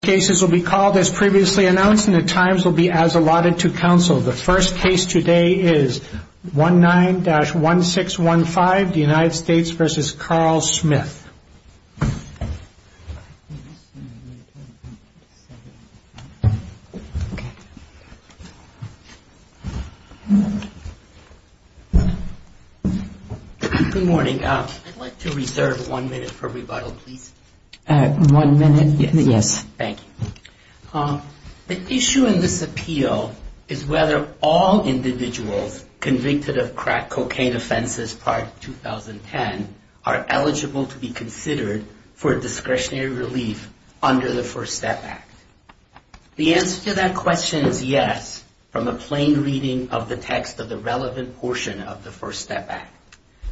Good morning. I'd like to reserve one minute for rebuttal, please. The issue in this appeal is whether all individuals convicted of crack cocaine offenses prior to 2010 are eligible to be considered for discretionary relief under the First Step Act. The answer to that question is yes, from a plain reading of the text of the relevant portion of the First Step Act.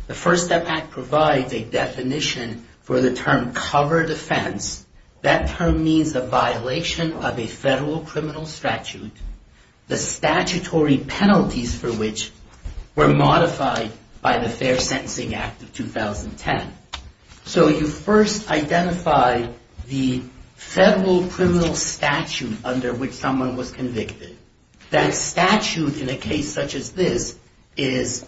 The First Step Act provides a definition for the term cover defense. That term means a violation of a federal criminal statute, the statutory penalties for which were modified by the Fair Sentencing Act of 2010. So you first identify the federal criminal statute under which someone was convicted. That statute in a case such as this is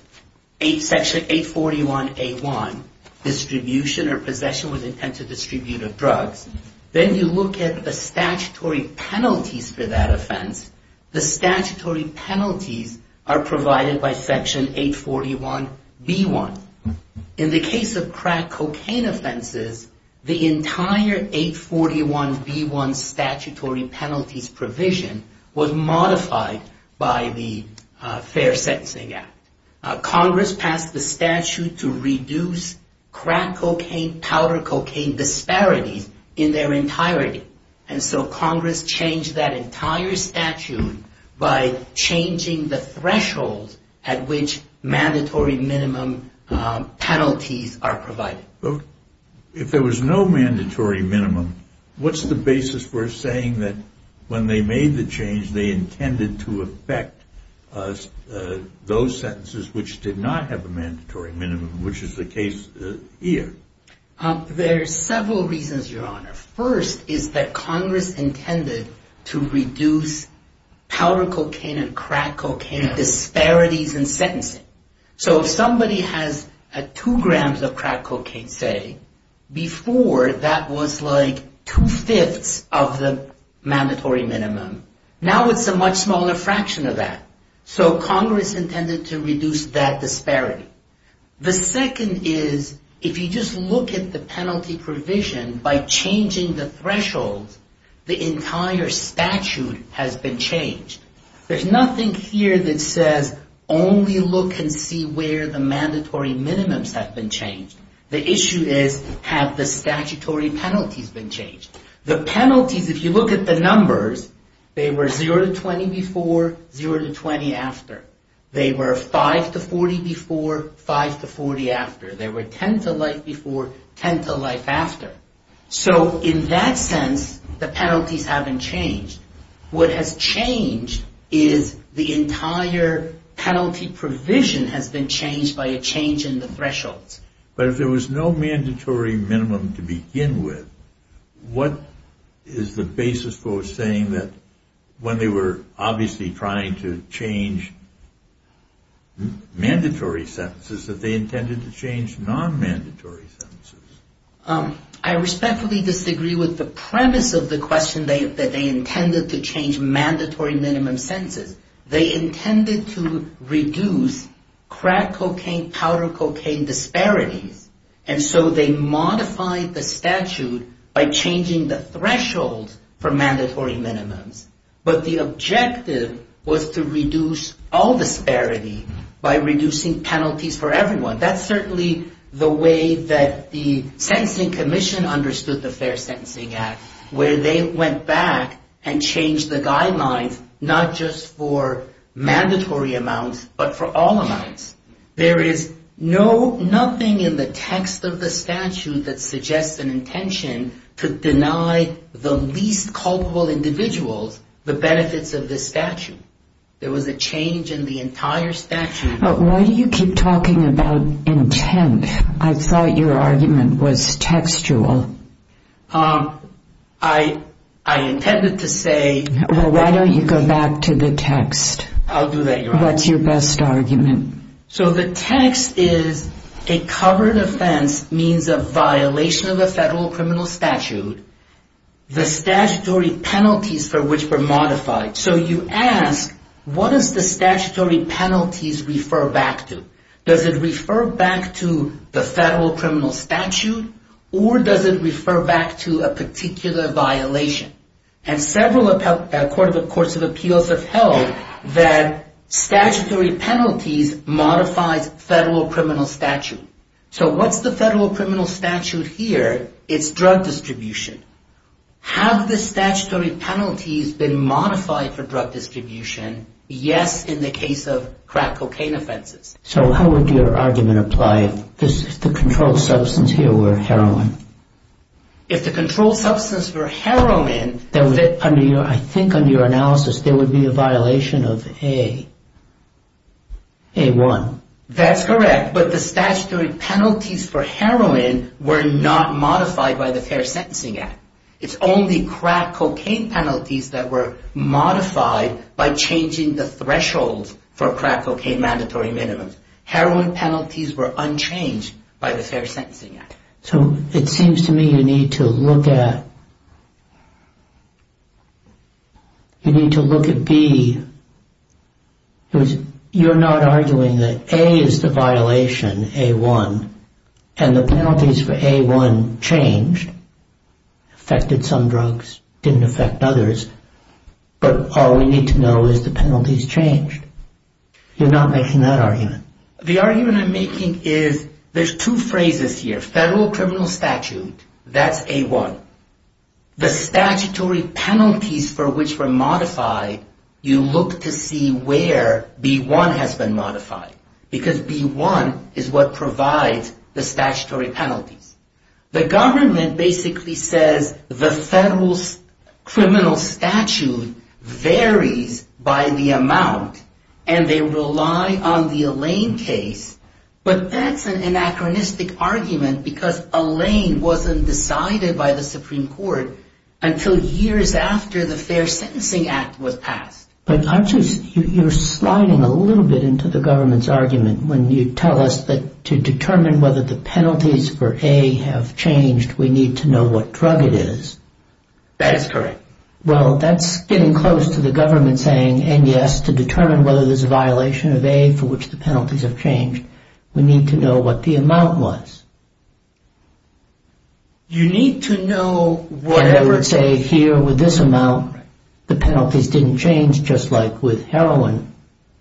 Section 841A1, distribution or possession with intent to distribute of drugs. Then you look at the statutory penalties for that offense. The statutory penalties are provided by Section 841B1. In the case of crack cocaine offenses, the entire 841B1 statutory penalties provision was modified by the Fair Sentencing Act. Congress passed the statute to reduce crack cocaine, powder cocaine disparities in their entirety. And so Congress changed that entire statute by changing the threshold at which mandatory minimum penalties are provided. If there was no mandatory minimum, what's the basis for saying that when they made the change, they intended to affect those sentences which did not have a mandatory minimum, which is the case here? There are several reasons, Your Honor. First is that Congress intended to reduce powder cocaine and crack cocaine disparities in sentencing. So if somebody has two grams of crack cocaine, say, before that was like two-fifths of the mandatory minimum. Now it's a much smaller fraction of that. So Congress intended to reduce that disparity. The second is if you just look at the penalty provision by changing the threshold, the entire statute has been changed. There's nothing here that says only look and see where the issue is. Have the statutory penalties been changed? The penalties, if you look at the numbers, they were 0 to 20 before, 0 to 20 after. They were 5 to 40 before, 5 to 40 after. They were 10 to life before, 10 to life after. So in that sense, the penalties haven't changed. What has changed is the entire penalty provision has been changed by a change in the thresholds. But if there was no mandatory minimum to begin with, what is the basis for saying that when they were obviously trying to change mandatory sentences that they intended to change non-mandatory sentences? I respectfully disagree with the premise of the question that they intended to change And so they modified the statute by changing the threshold for mandatory minimums. But the objective was to reduce all disparity by reducing penalties for everyone. That's certainly the way that the Sentencing Commission understood the Fair Sentencing Act, where they went back and changed the guidelines, not just for mandatory amounts, but for all the individuals. But why do you keep talking about intent? I thought your argument was textual. I intended to say Well, why don't you go back to the text? I'll do that, Your Honor. What's your best argument? means a violation of a federal criminal statute, the statutory penalties for which were modified. So you ask, what does the statutory penalties refer back to? Does it refer back to the federal criminal statute, or does it refer back to a particular violation? And several courts of appeals have held that statutory penalties modifies federal criminal statute. So what's the federal criminal statute here? It's drug distribution. Have the statutory penalties been modified for drug distribution? Yes, in the case of crack cocaine offenses. So how would your argument apply if the controlled substance here were heroin? If the controlled substance were heroin I think under your analysis there would be a violation of A1. That's correct, but the statutory penalties for heroin were not modified by the Fair Sentencing Act. It's only crack cocaine penalties that were modified by changing the thresholds for crack cocaine mandatory minimums. Heroin penalties were unchanged by the Fair Sentencing Act. So it seems to me you need to look at, you need to look at B. You're not arguing that A is the violation, A1, and the penalties for A1 changed, affected some drugs, didn't affect others, but all we need to know is the penalties changed. You're not making that argument. The argument I'm making is there's two phrases here. Federal criminal statute, that's A1. The statutory penalties for which were modified, you look to see where B1 has been modified because B1 is what provides the statutory penalties. The government basically says the Lane case, but that's an anachronistic argument because a Lane wasn't decided by the Supreme Court until years after the Fair Sentencing Act was passed. But aren't you, you're sliding a little bit into the government's argument when you tell us that to determine whether the penalties for A have changed we need to know what drug it is. That is correct. Well, that's getting close to the government saying, and yes, to determine whether there's a violation of A for which the penalties have changed, we need to know what the amount was. You need to know whatever Say here with this amount, the penalties didn't change just like with heroin,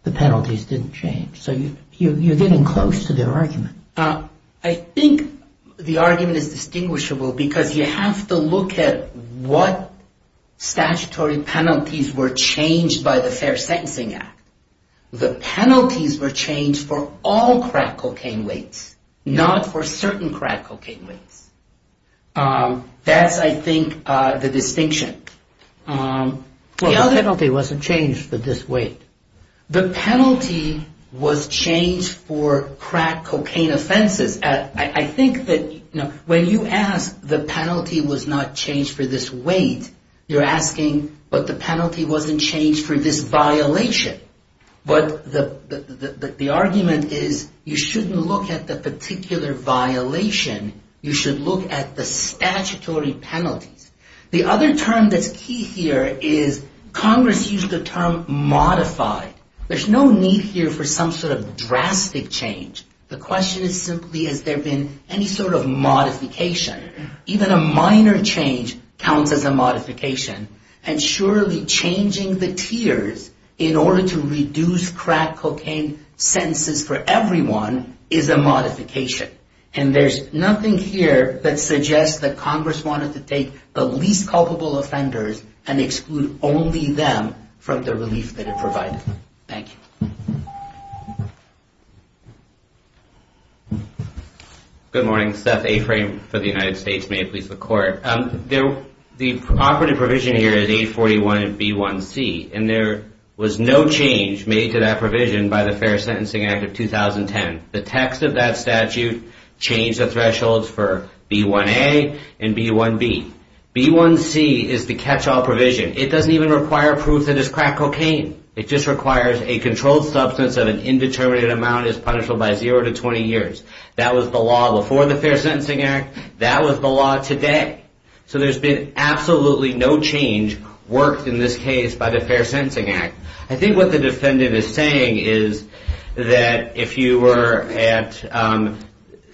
the penalties didn't change. So you're getting close to their argument. I think the argument is distinguishable because you have to look at what statutory penalties were changed by the Fair Sentencing Act. The penalties were changed for all crack cocaine weights, not for certain crack cocaine weights. That's, I think, the distinction. The penalty wasn't changed for this weight. The penalty was changed for crack cocaine offenses. I think that when you ask the penalty was not changed for this weight, you're asking, but the penalty wasn't changed for this violation. But the argument is you shouldn't look at the particular violation. You should look at the statutory penalties. The other term that's key here is Congress used the term modified. There's no need here for some sort of drastic change. The question is simply, has there been any sort of modification? Even a minor change counts as a modification. And surely changing the tiers in order to reduce crack cocaine sentences for everyone is a modification. And there's nothing here that suggests that Congress wanted to take the least culpable offenders and exclude only them from the relief that it provided. Thank you. Good morning. Seth Aframe for the United States. May it please the Court. The operative provision here is 841B1C. And there was no change made to that provision by the Fair Sentencing Act of 2010. The text of that statute changed the thresholds for B1A and B1B. B1C is the catch-all provision. It doesn't even require proof that it's crack cocaine. It just requires a controlled substance of an indeterminate amount is punishable by 0 to 20 years. That was the law before the Fair Sentencing Act. That was the law today. So there's been absolutely no change worked in this case by the Fair Sentencing Act. I think what the defendant is saying is that if you were at...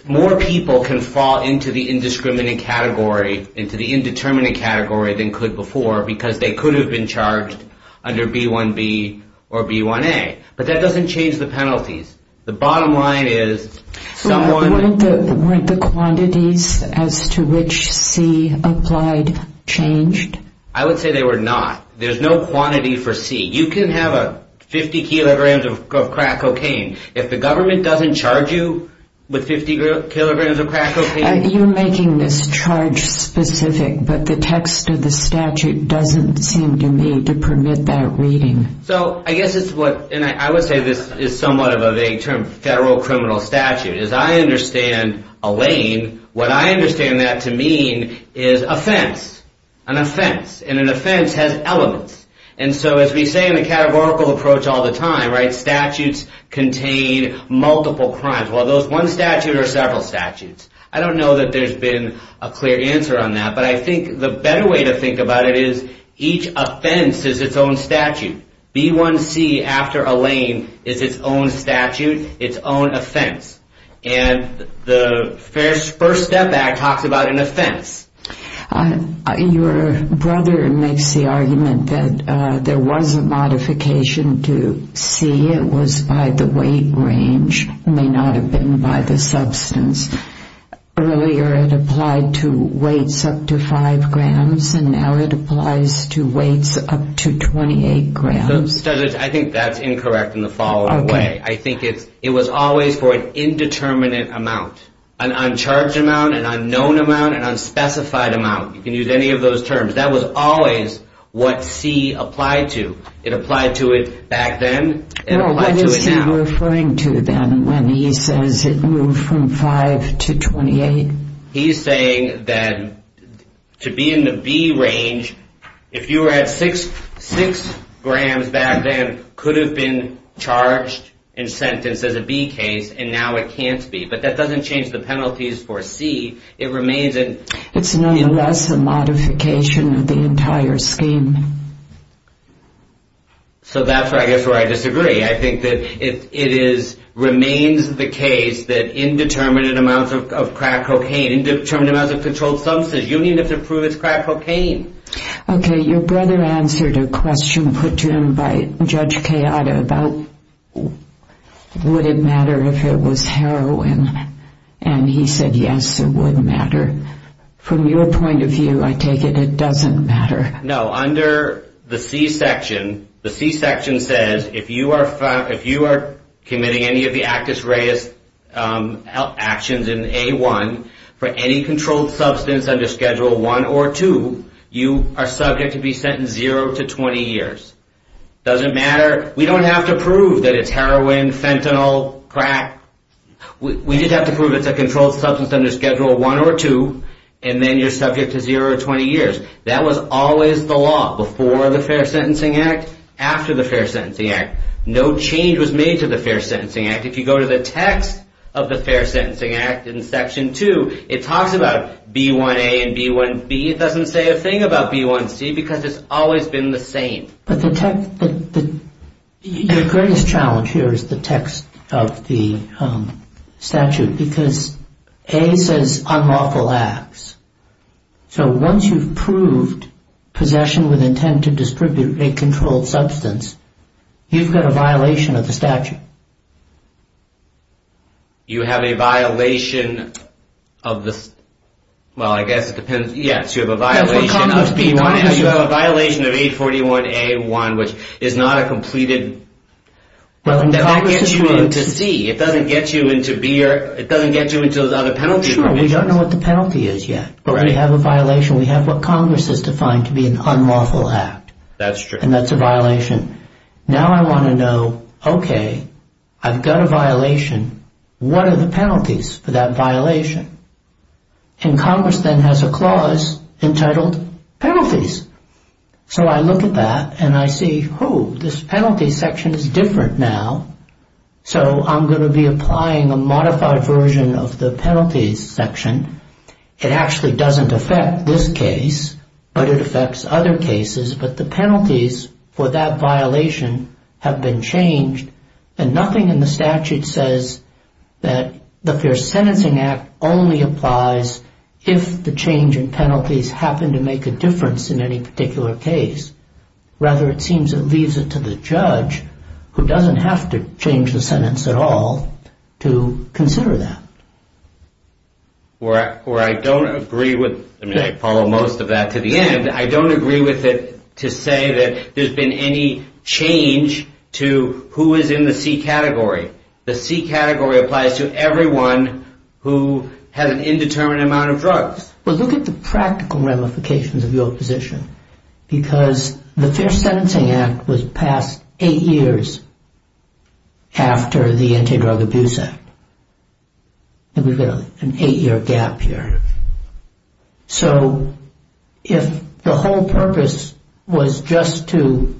more people can fall into the indiscriminate category, into the indeterminate category than could before, because they could have been charged under B1B or B1A. But that doesn't change the penalties. The bottom line is someone... So weren't the quantities as to which C applied changed? I would say they were not. There's no quantity for C. You can have 50 kilograms of crack cocaine. If the government doesn't charge you with 50 kilograms of crack cocaine... You're making this charge specific, but the text of the statute doesn't seem to me to permit that reading. I would say this is somewhat of a federal criminal statute. As I understand Elaine, what I understand that to mean is offense. An offense. And an offense has elements. And so as we say in the categorical approach all the time, statutes contain multiple crimes. Well, those one statute or several statutes. I don't know that there's been a clear answer on that, but I think the better way to think about it is each offense is its own statute. B1C after Elaine is its own statute, its own offense. And the First Step Act talks about an offense. Your brother makes the argument that there was a modification to C. It was by the weight range. It may not have been by the substance. Earlier it applied to weights up to 5 grams, and now it applies to weights up to 28 grams. I think that's incorrect in the following way. I think it was always for an indeterminate amount. An uncharged amount, an unknown amount, an unspecified amount. You can use any of those terms. That was always what C applied to. It applied to it back then. What is he referring to then when he says it moved from 5 to 28? He's saying that to be in the B range, if you were at 6 grams back then, it could have been charged and sentenced as a B case, and now it can't be. But that doesn't change the penalties for C. It's nonetheless a modification of the entire scheme. So that's where I disagree. I think that it remains the case that indeterminate amounts of crack cocaine, indeterminate amounts of controlled substances, you need to prove it's crack cocaine. Okay, your brother answered a question put to him by Judge Kayada about would it matter if it was heroin. And he said yes, it would matter. From your point of view, I take it it doesn't matter. No, under the C section, the C section says if you are committing any of the Actus Reus actions in A1, for any controlled substance under Schedule 1 or 2, you are subject to be sentenced 0 to 20 years. We don't have to prove that it's heroin, fentanyl, crack. We just have to prove it's a controlled substance under Schedule 1 or 2, and then you're subject to 0 to 20 years. That was always the law before the Fair Sentencing Act, after the Fair Sentencing Act. No change was made to the Fair Sentencing Act. If you go to the text of the Fair Sentencing Act in Section 2, it talks about B1A and B1B. It doesn't say a thing about B1C because it's always been the same. But the greatest challenge here is the text of the statute because A says unlawful acts. So once you've proved possession with intent to distribute a controlled substance, you've got a violation of the statute. You have a violation of this. Well, I guess it depends. Yes, you have a violation of B1A. You have a violation of 841A1, which is not a completed. That gets you into C. It doesn't get you into B. It doesn't get you into the other penalty provisions. Sure, we don't know what the penalty is yet. But we have a violation. We have what Congress has defined to be an unlawful act. That's true. And that's a violation. Now I want to know, okay, I've got a violation. What are the penalties for that violation? And Congress then has a clause entitled penalties. So I look at that and I see, oh, this penalty section is different now. So I'm going to be applying a modified version of the penalties section. It actually doesn't affect this case, but it affects other cases. But the penalties for that violation have been changed, and nothing in the statute says that the Fair Sentencing Act only applies if the change in penalties happen to make a difference in any particular case. Rather, it seems it leaves it to the judge, who doesn't have to change the sentence at all, to consider that. Or I don't agree with, I mean, I follow most of that to the end. And I don't agree with it to say that there's been any change to who is in the C category. The C category applies to everyone who has an indeterminate amount of drugs. Well, look at the practical ramifications of your position. Because the Fair Sentencing Act was passed eight years after the Anti-Drug Abuse Act. And we've got an eight-year gap here. So, if the whole purpose was just to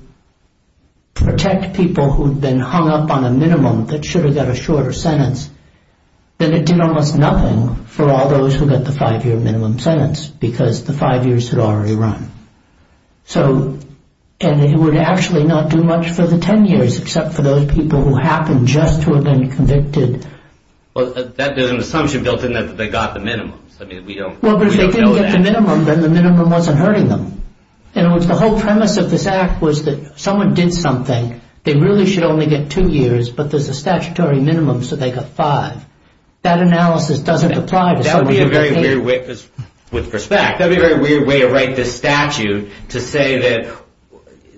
protect people who'd been hung up on a minimum that should have got a shorter sentence, then it did almost nothing for all those who got the five-year minimum sentence, because the five years had already run. So, and it would actually not do much for the ten years, except for those people who happened just to have been convicted. Well, there's an assumption built in that they got the minimums. I mean, we don't know that. Well, but if they didn't get the minimum, then the minimum wasn't hurting them. In other words, the whole premise of this act was that someone did something, they really should only get two years, but there's a statutory minimum, so they got five. That analysis doesn't apply to someone who got eight years. That would be a very weird way, because with respect, that would be a very weird way to write this statute, to say that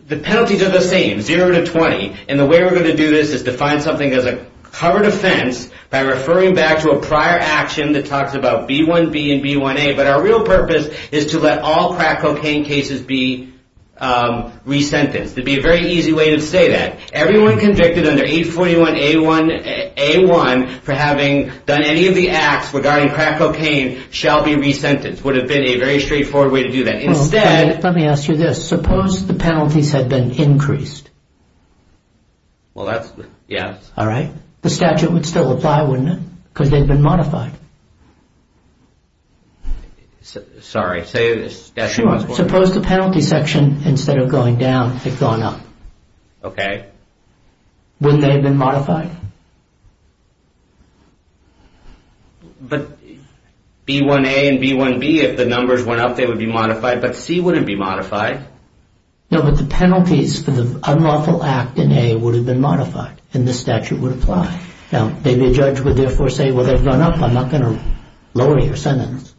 the penalties are the same, zero to 20. And the way we're going to do this is to find something as a covered offense by referring back to a prior action that talks about B1B and B1A, but our real purpose is to let all crack cocaine cases be resentenced. It would be a very easy way to say that. Everyone convicted under 841A1 for having done any of the acts regarding crack cocaine shall be resentenced. It would have been a very straightforward way to do that. Instead... Let me ask you this. Suppose the penalties had been increased. Well, that's... yes. All right. The statute would still apply, wouldn't it? Because they've been modified. Sorry, say the statute was... Sure. Suppose the penalty section, instead of going down, had gone up. Okay. Wouldn't they have been modified? But B1A and B1B, if the numbers went up, they would be modified, but C wouldn't be modified. No, but the penalties for the unlawful act in A would have been modified, and the statute would apply. Now, maybe a judge would therefore say, well, they've gone up, I'm not going to lower your sentence.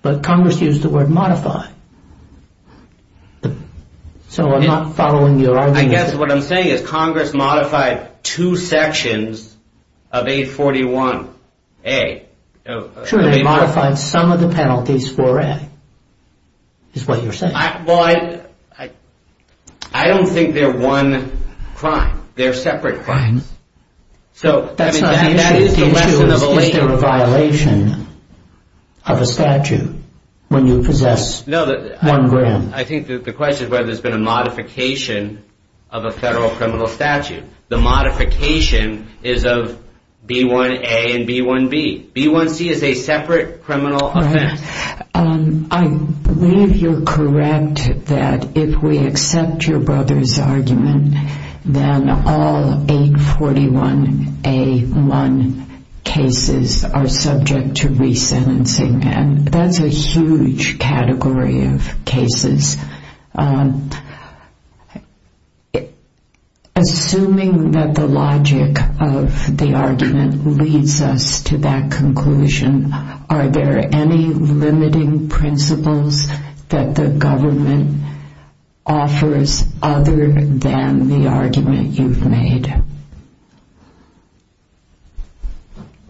But Congress used the word modified. So I'm not following your argument. I guess what I'm saying is Congress modified two sections of the statute and two sections of 841A. Sure, they modified some of the penalties for A, is what you're saying. Well, I don't think they're one crime. They're separate crimes. That's not the issue. The issue is, is there a violation of a statute when you possess one grant? I think the question is whether there's been a modification of a federal criminal statute. The modification is of B1A and B1B. B1C is a separate criminal offense. I believe you're correct that if we accept your brother's argument, then all 841A1 cases are subject to resentencing, and that's a huge category of cases. Assuming that the logic of the argument leads us to that conclusion, are there any limiting principles that the government offers other than the argument you've made?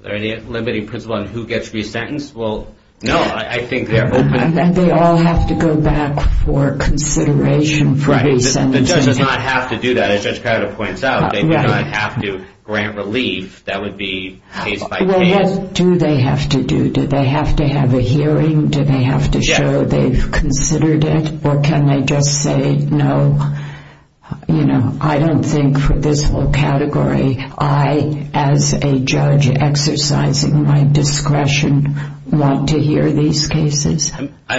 Are there any limiting principles on who gets resentenced? Well, no, I think they're open to that. They all have to go back for consideration for resentencing. The judge does not have to do that, as Judge Crowder points out. They do not have to grant relief. That would be case by case. Well, what do they have to do? Do they have to have a hearing? Do they have to show they've considered it? Or can they just say, no, I don't think for this whole category, I, as a judge exercising my discretion, want to hear these cases. I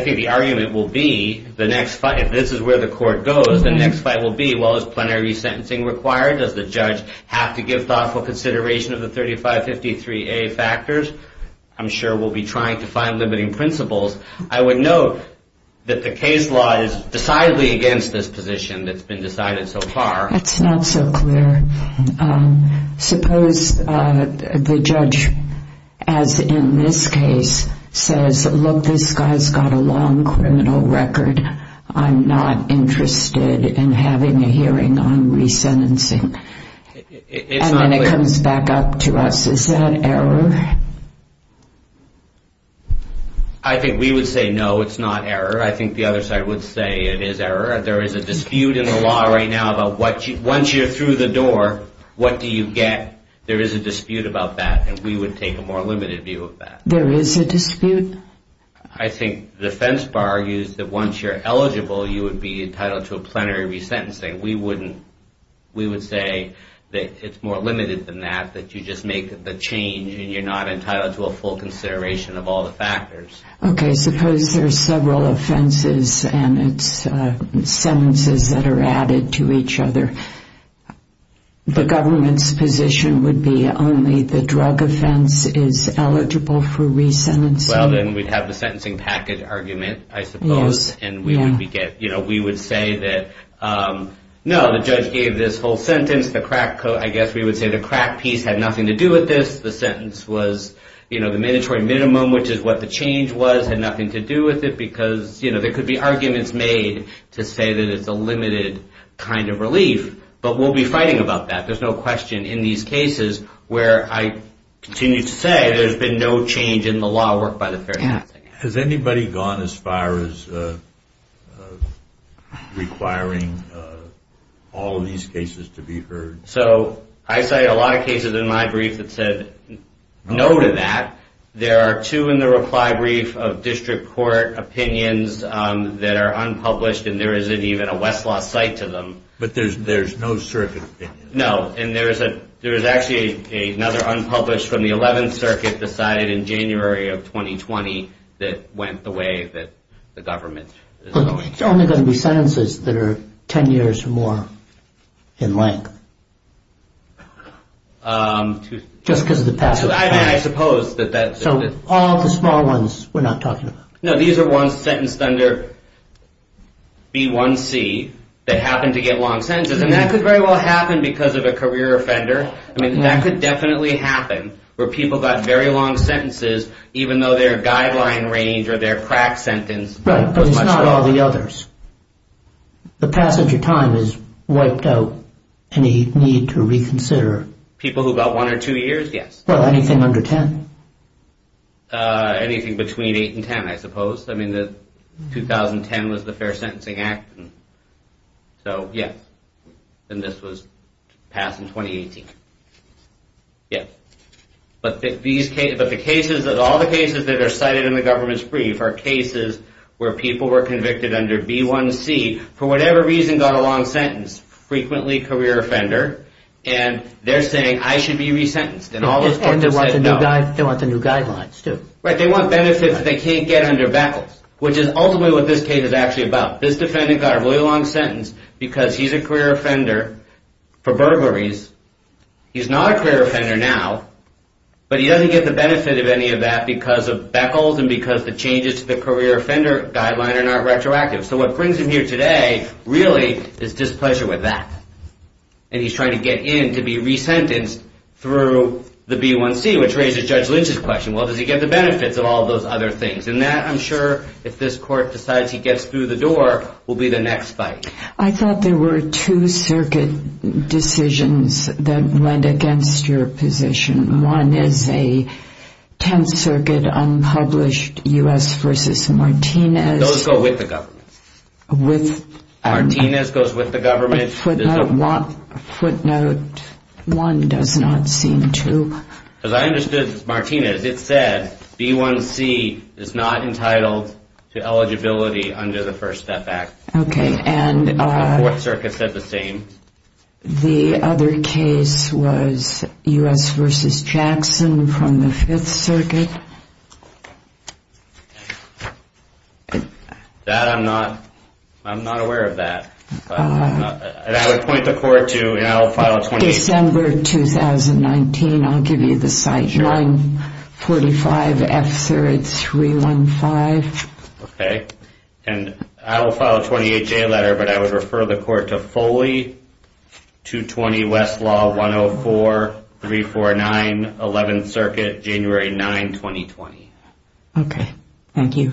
think the argument will be, if this is where the court goes, the next fight will be, well, is plenary resentencing required? Does the judge have to give thoughtful consideration of the 3553A factors? I'm sure we'll be trying to find limiting principles. I would note that the case law is decidedly against this position that's been decided so far. That's not so clear. Suppose the judge, as in this case, says, look, this guy's got a long criminal record. I'm not interested in having a hearing on resentencing. And then it comes back up to us. Is that error? I think we would say, no, it's not error. I think the other side would say it is error. There is a dispute in the law right now about once you're through the door, what do you get? There is a dispute about that, and we would take a more limited view of that. There is a dispute? I think the defense bar argues that once you're eligible, you would be entitled to a plenary resentencing. We would say that it's more limited than that, that you just make the change Okay, suppose there are several offenses and it's sentences that are added to each other. The government's position would be only the drug offense is eligible for resentencing. Well, then we'd have the sentencing package argument, I suppose, and we would say that, no, the judge gave this whole sentence. I guess we would say the crack piece had nothing to do with this. The sentence was the mandatory minimum, which is what the change was, had nothing to do with it, because there could be arguments made to say that it's a limited kind of relief, but we'll be fighting about that. There's no question in these cases where I continue to say there's been no change in the law. Has anybody gone as far as requiring all of these cases to be heard? So I say a lot of cases in my brief that said no to that. There are two in the reply brief of district court opinions that are unpublished, and there isn't even a Westlaw site to them. But there's no circuit opinion. No, and there is actually another unpublished from the 11th Circuit decided in January of 2020 that went the way that the government is going. It's only going to be sentences that are 10 years or more in length, just because of the passage of time. I mean, I suppose that that's... So all the small ones we're not talking about. No, these are ones sentenced under B1C that happened to get long sentences, and that could very well happen because of a career offender. I mean, that could definitely happen where people got very long sentences, even though their guideline range or their crack sentence... Right, but it's not all the others. The passage of time has wiped out any need to reconsider. People who got one or two years, yes. Well, anything under 10? Anything between 8 and 10, I suppose. I mean, 2010 was the Fair Sentencing Act, so yes. And this was passed in 2018. Yes. But all the cases that are cited in the government's brief are cases where people were convicted under B1C for whatever reason got a long sentence, frequently career offender, and they're saying, I should be resentenced. And they want the new guidelines, too. Right, they want benefits they can't get under BACLS, which is ultimately what this case is actually about. This defendant got a really long sentence because he's a career offender for burglaries. He's not a career offender now, but he doesn't get the benefit of any of that because of BACLS and because the changes to the career offender guideline are not retroactive. So what brings him here today really is displeasure with that. And he's trying to get in to be resentenced through the B1C, which raises Judge Lynch's question. Well, does he get the benefits of all those other things? And that, I'm sure, if this court decides he gets through the door, will be the next fight. I thought there were two circuit decisions that went against your position. One is a Tenth Circuit unpublished U.S. v. Martinez. Those go with the government. With? Martinez goes with the government. Footnote one does not seem to. As I understood, Martinez, it said B1C is not entitled to eligibility under the First Step Act. Okay. The Fourth Circuit said the same. The other case was U.S. v. Jackson from the Fifth Circuit. That, I'm not aware of that. And I would point the court to, you know, File 28. December 2019. I'll give you the site. Sure. 945F315. Okay. And I will file a 28-J letter, but I would refer the court to Foley. 220 Westlaw 104-349, Eleventh Circuit, January 9, 2020. Okay. Thank you.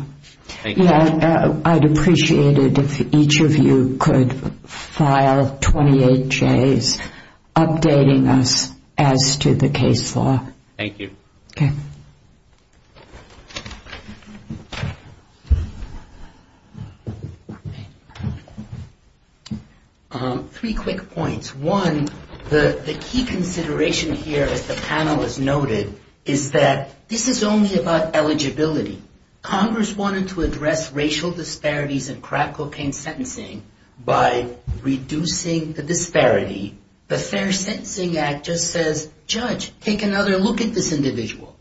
Thank you. I'd appreciate it if each of you could file 28-Js updating us as to the case law. Thank you. Okay. Three quick points. One, the key consideration here, as the panel has noted, is that this is only about eligibility. Congress wanted to address racial disparities in crack cocaine sentencing by reducing the disparity. The Fair Sentencing Act just says, Judge, take another look at this individual.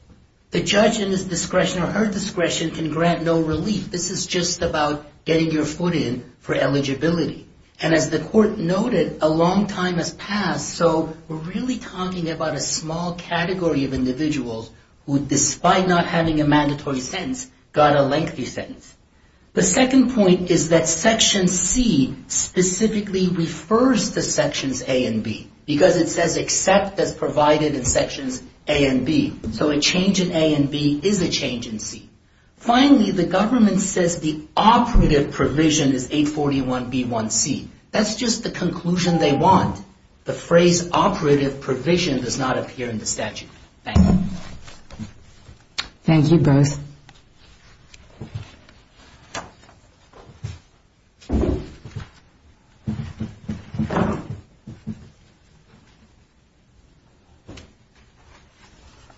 The judge in his discretion or her discretion can grant no relief. This is just about getting your foot in for eligibility. And as the court noted, a long time has passed, so we're really talking about a small category of individuals who, despite not having a mandatory sentence, got a lengthy sentence. The second point is that Section C specifically refers to Sections A and B, because it says except as provided in Sections A and B. So a change in A and B is a change in C. Finally, the government says the operative provision is 841B1C. That's just the conclusion they want. The phrase operative provision does not appear in the statute. Thank you. Thank you, both.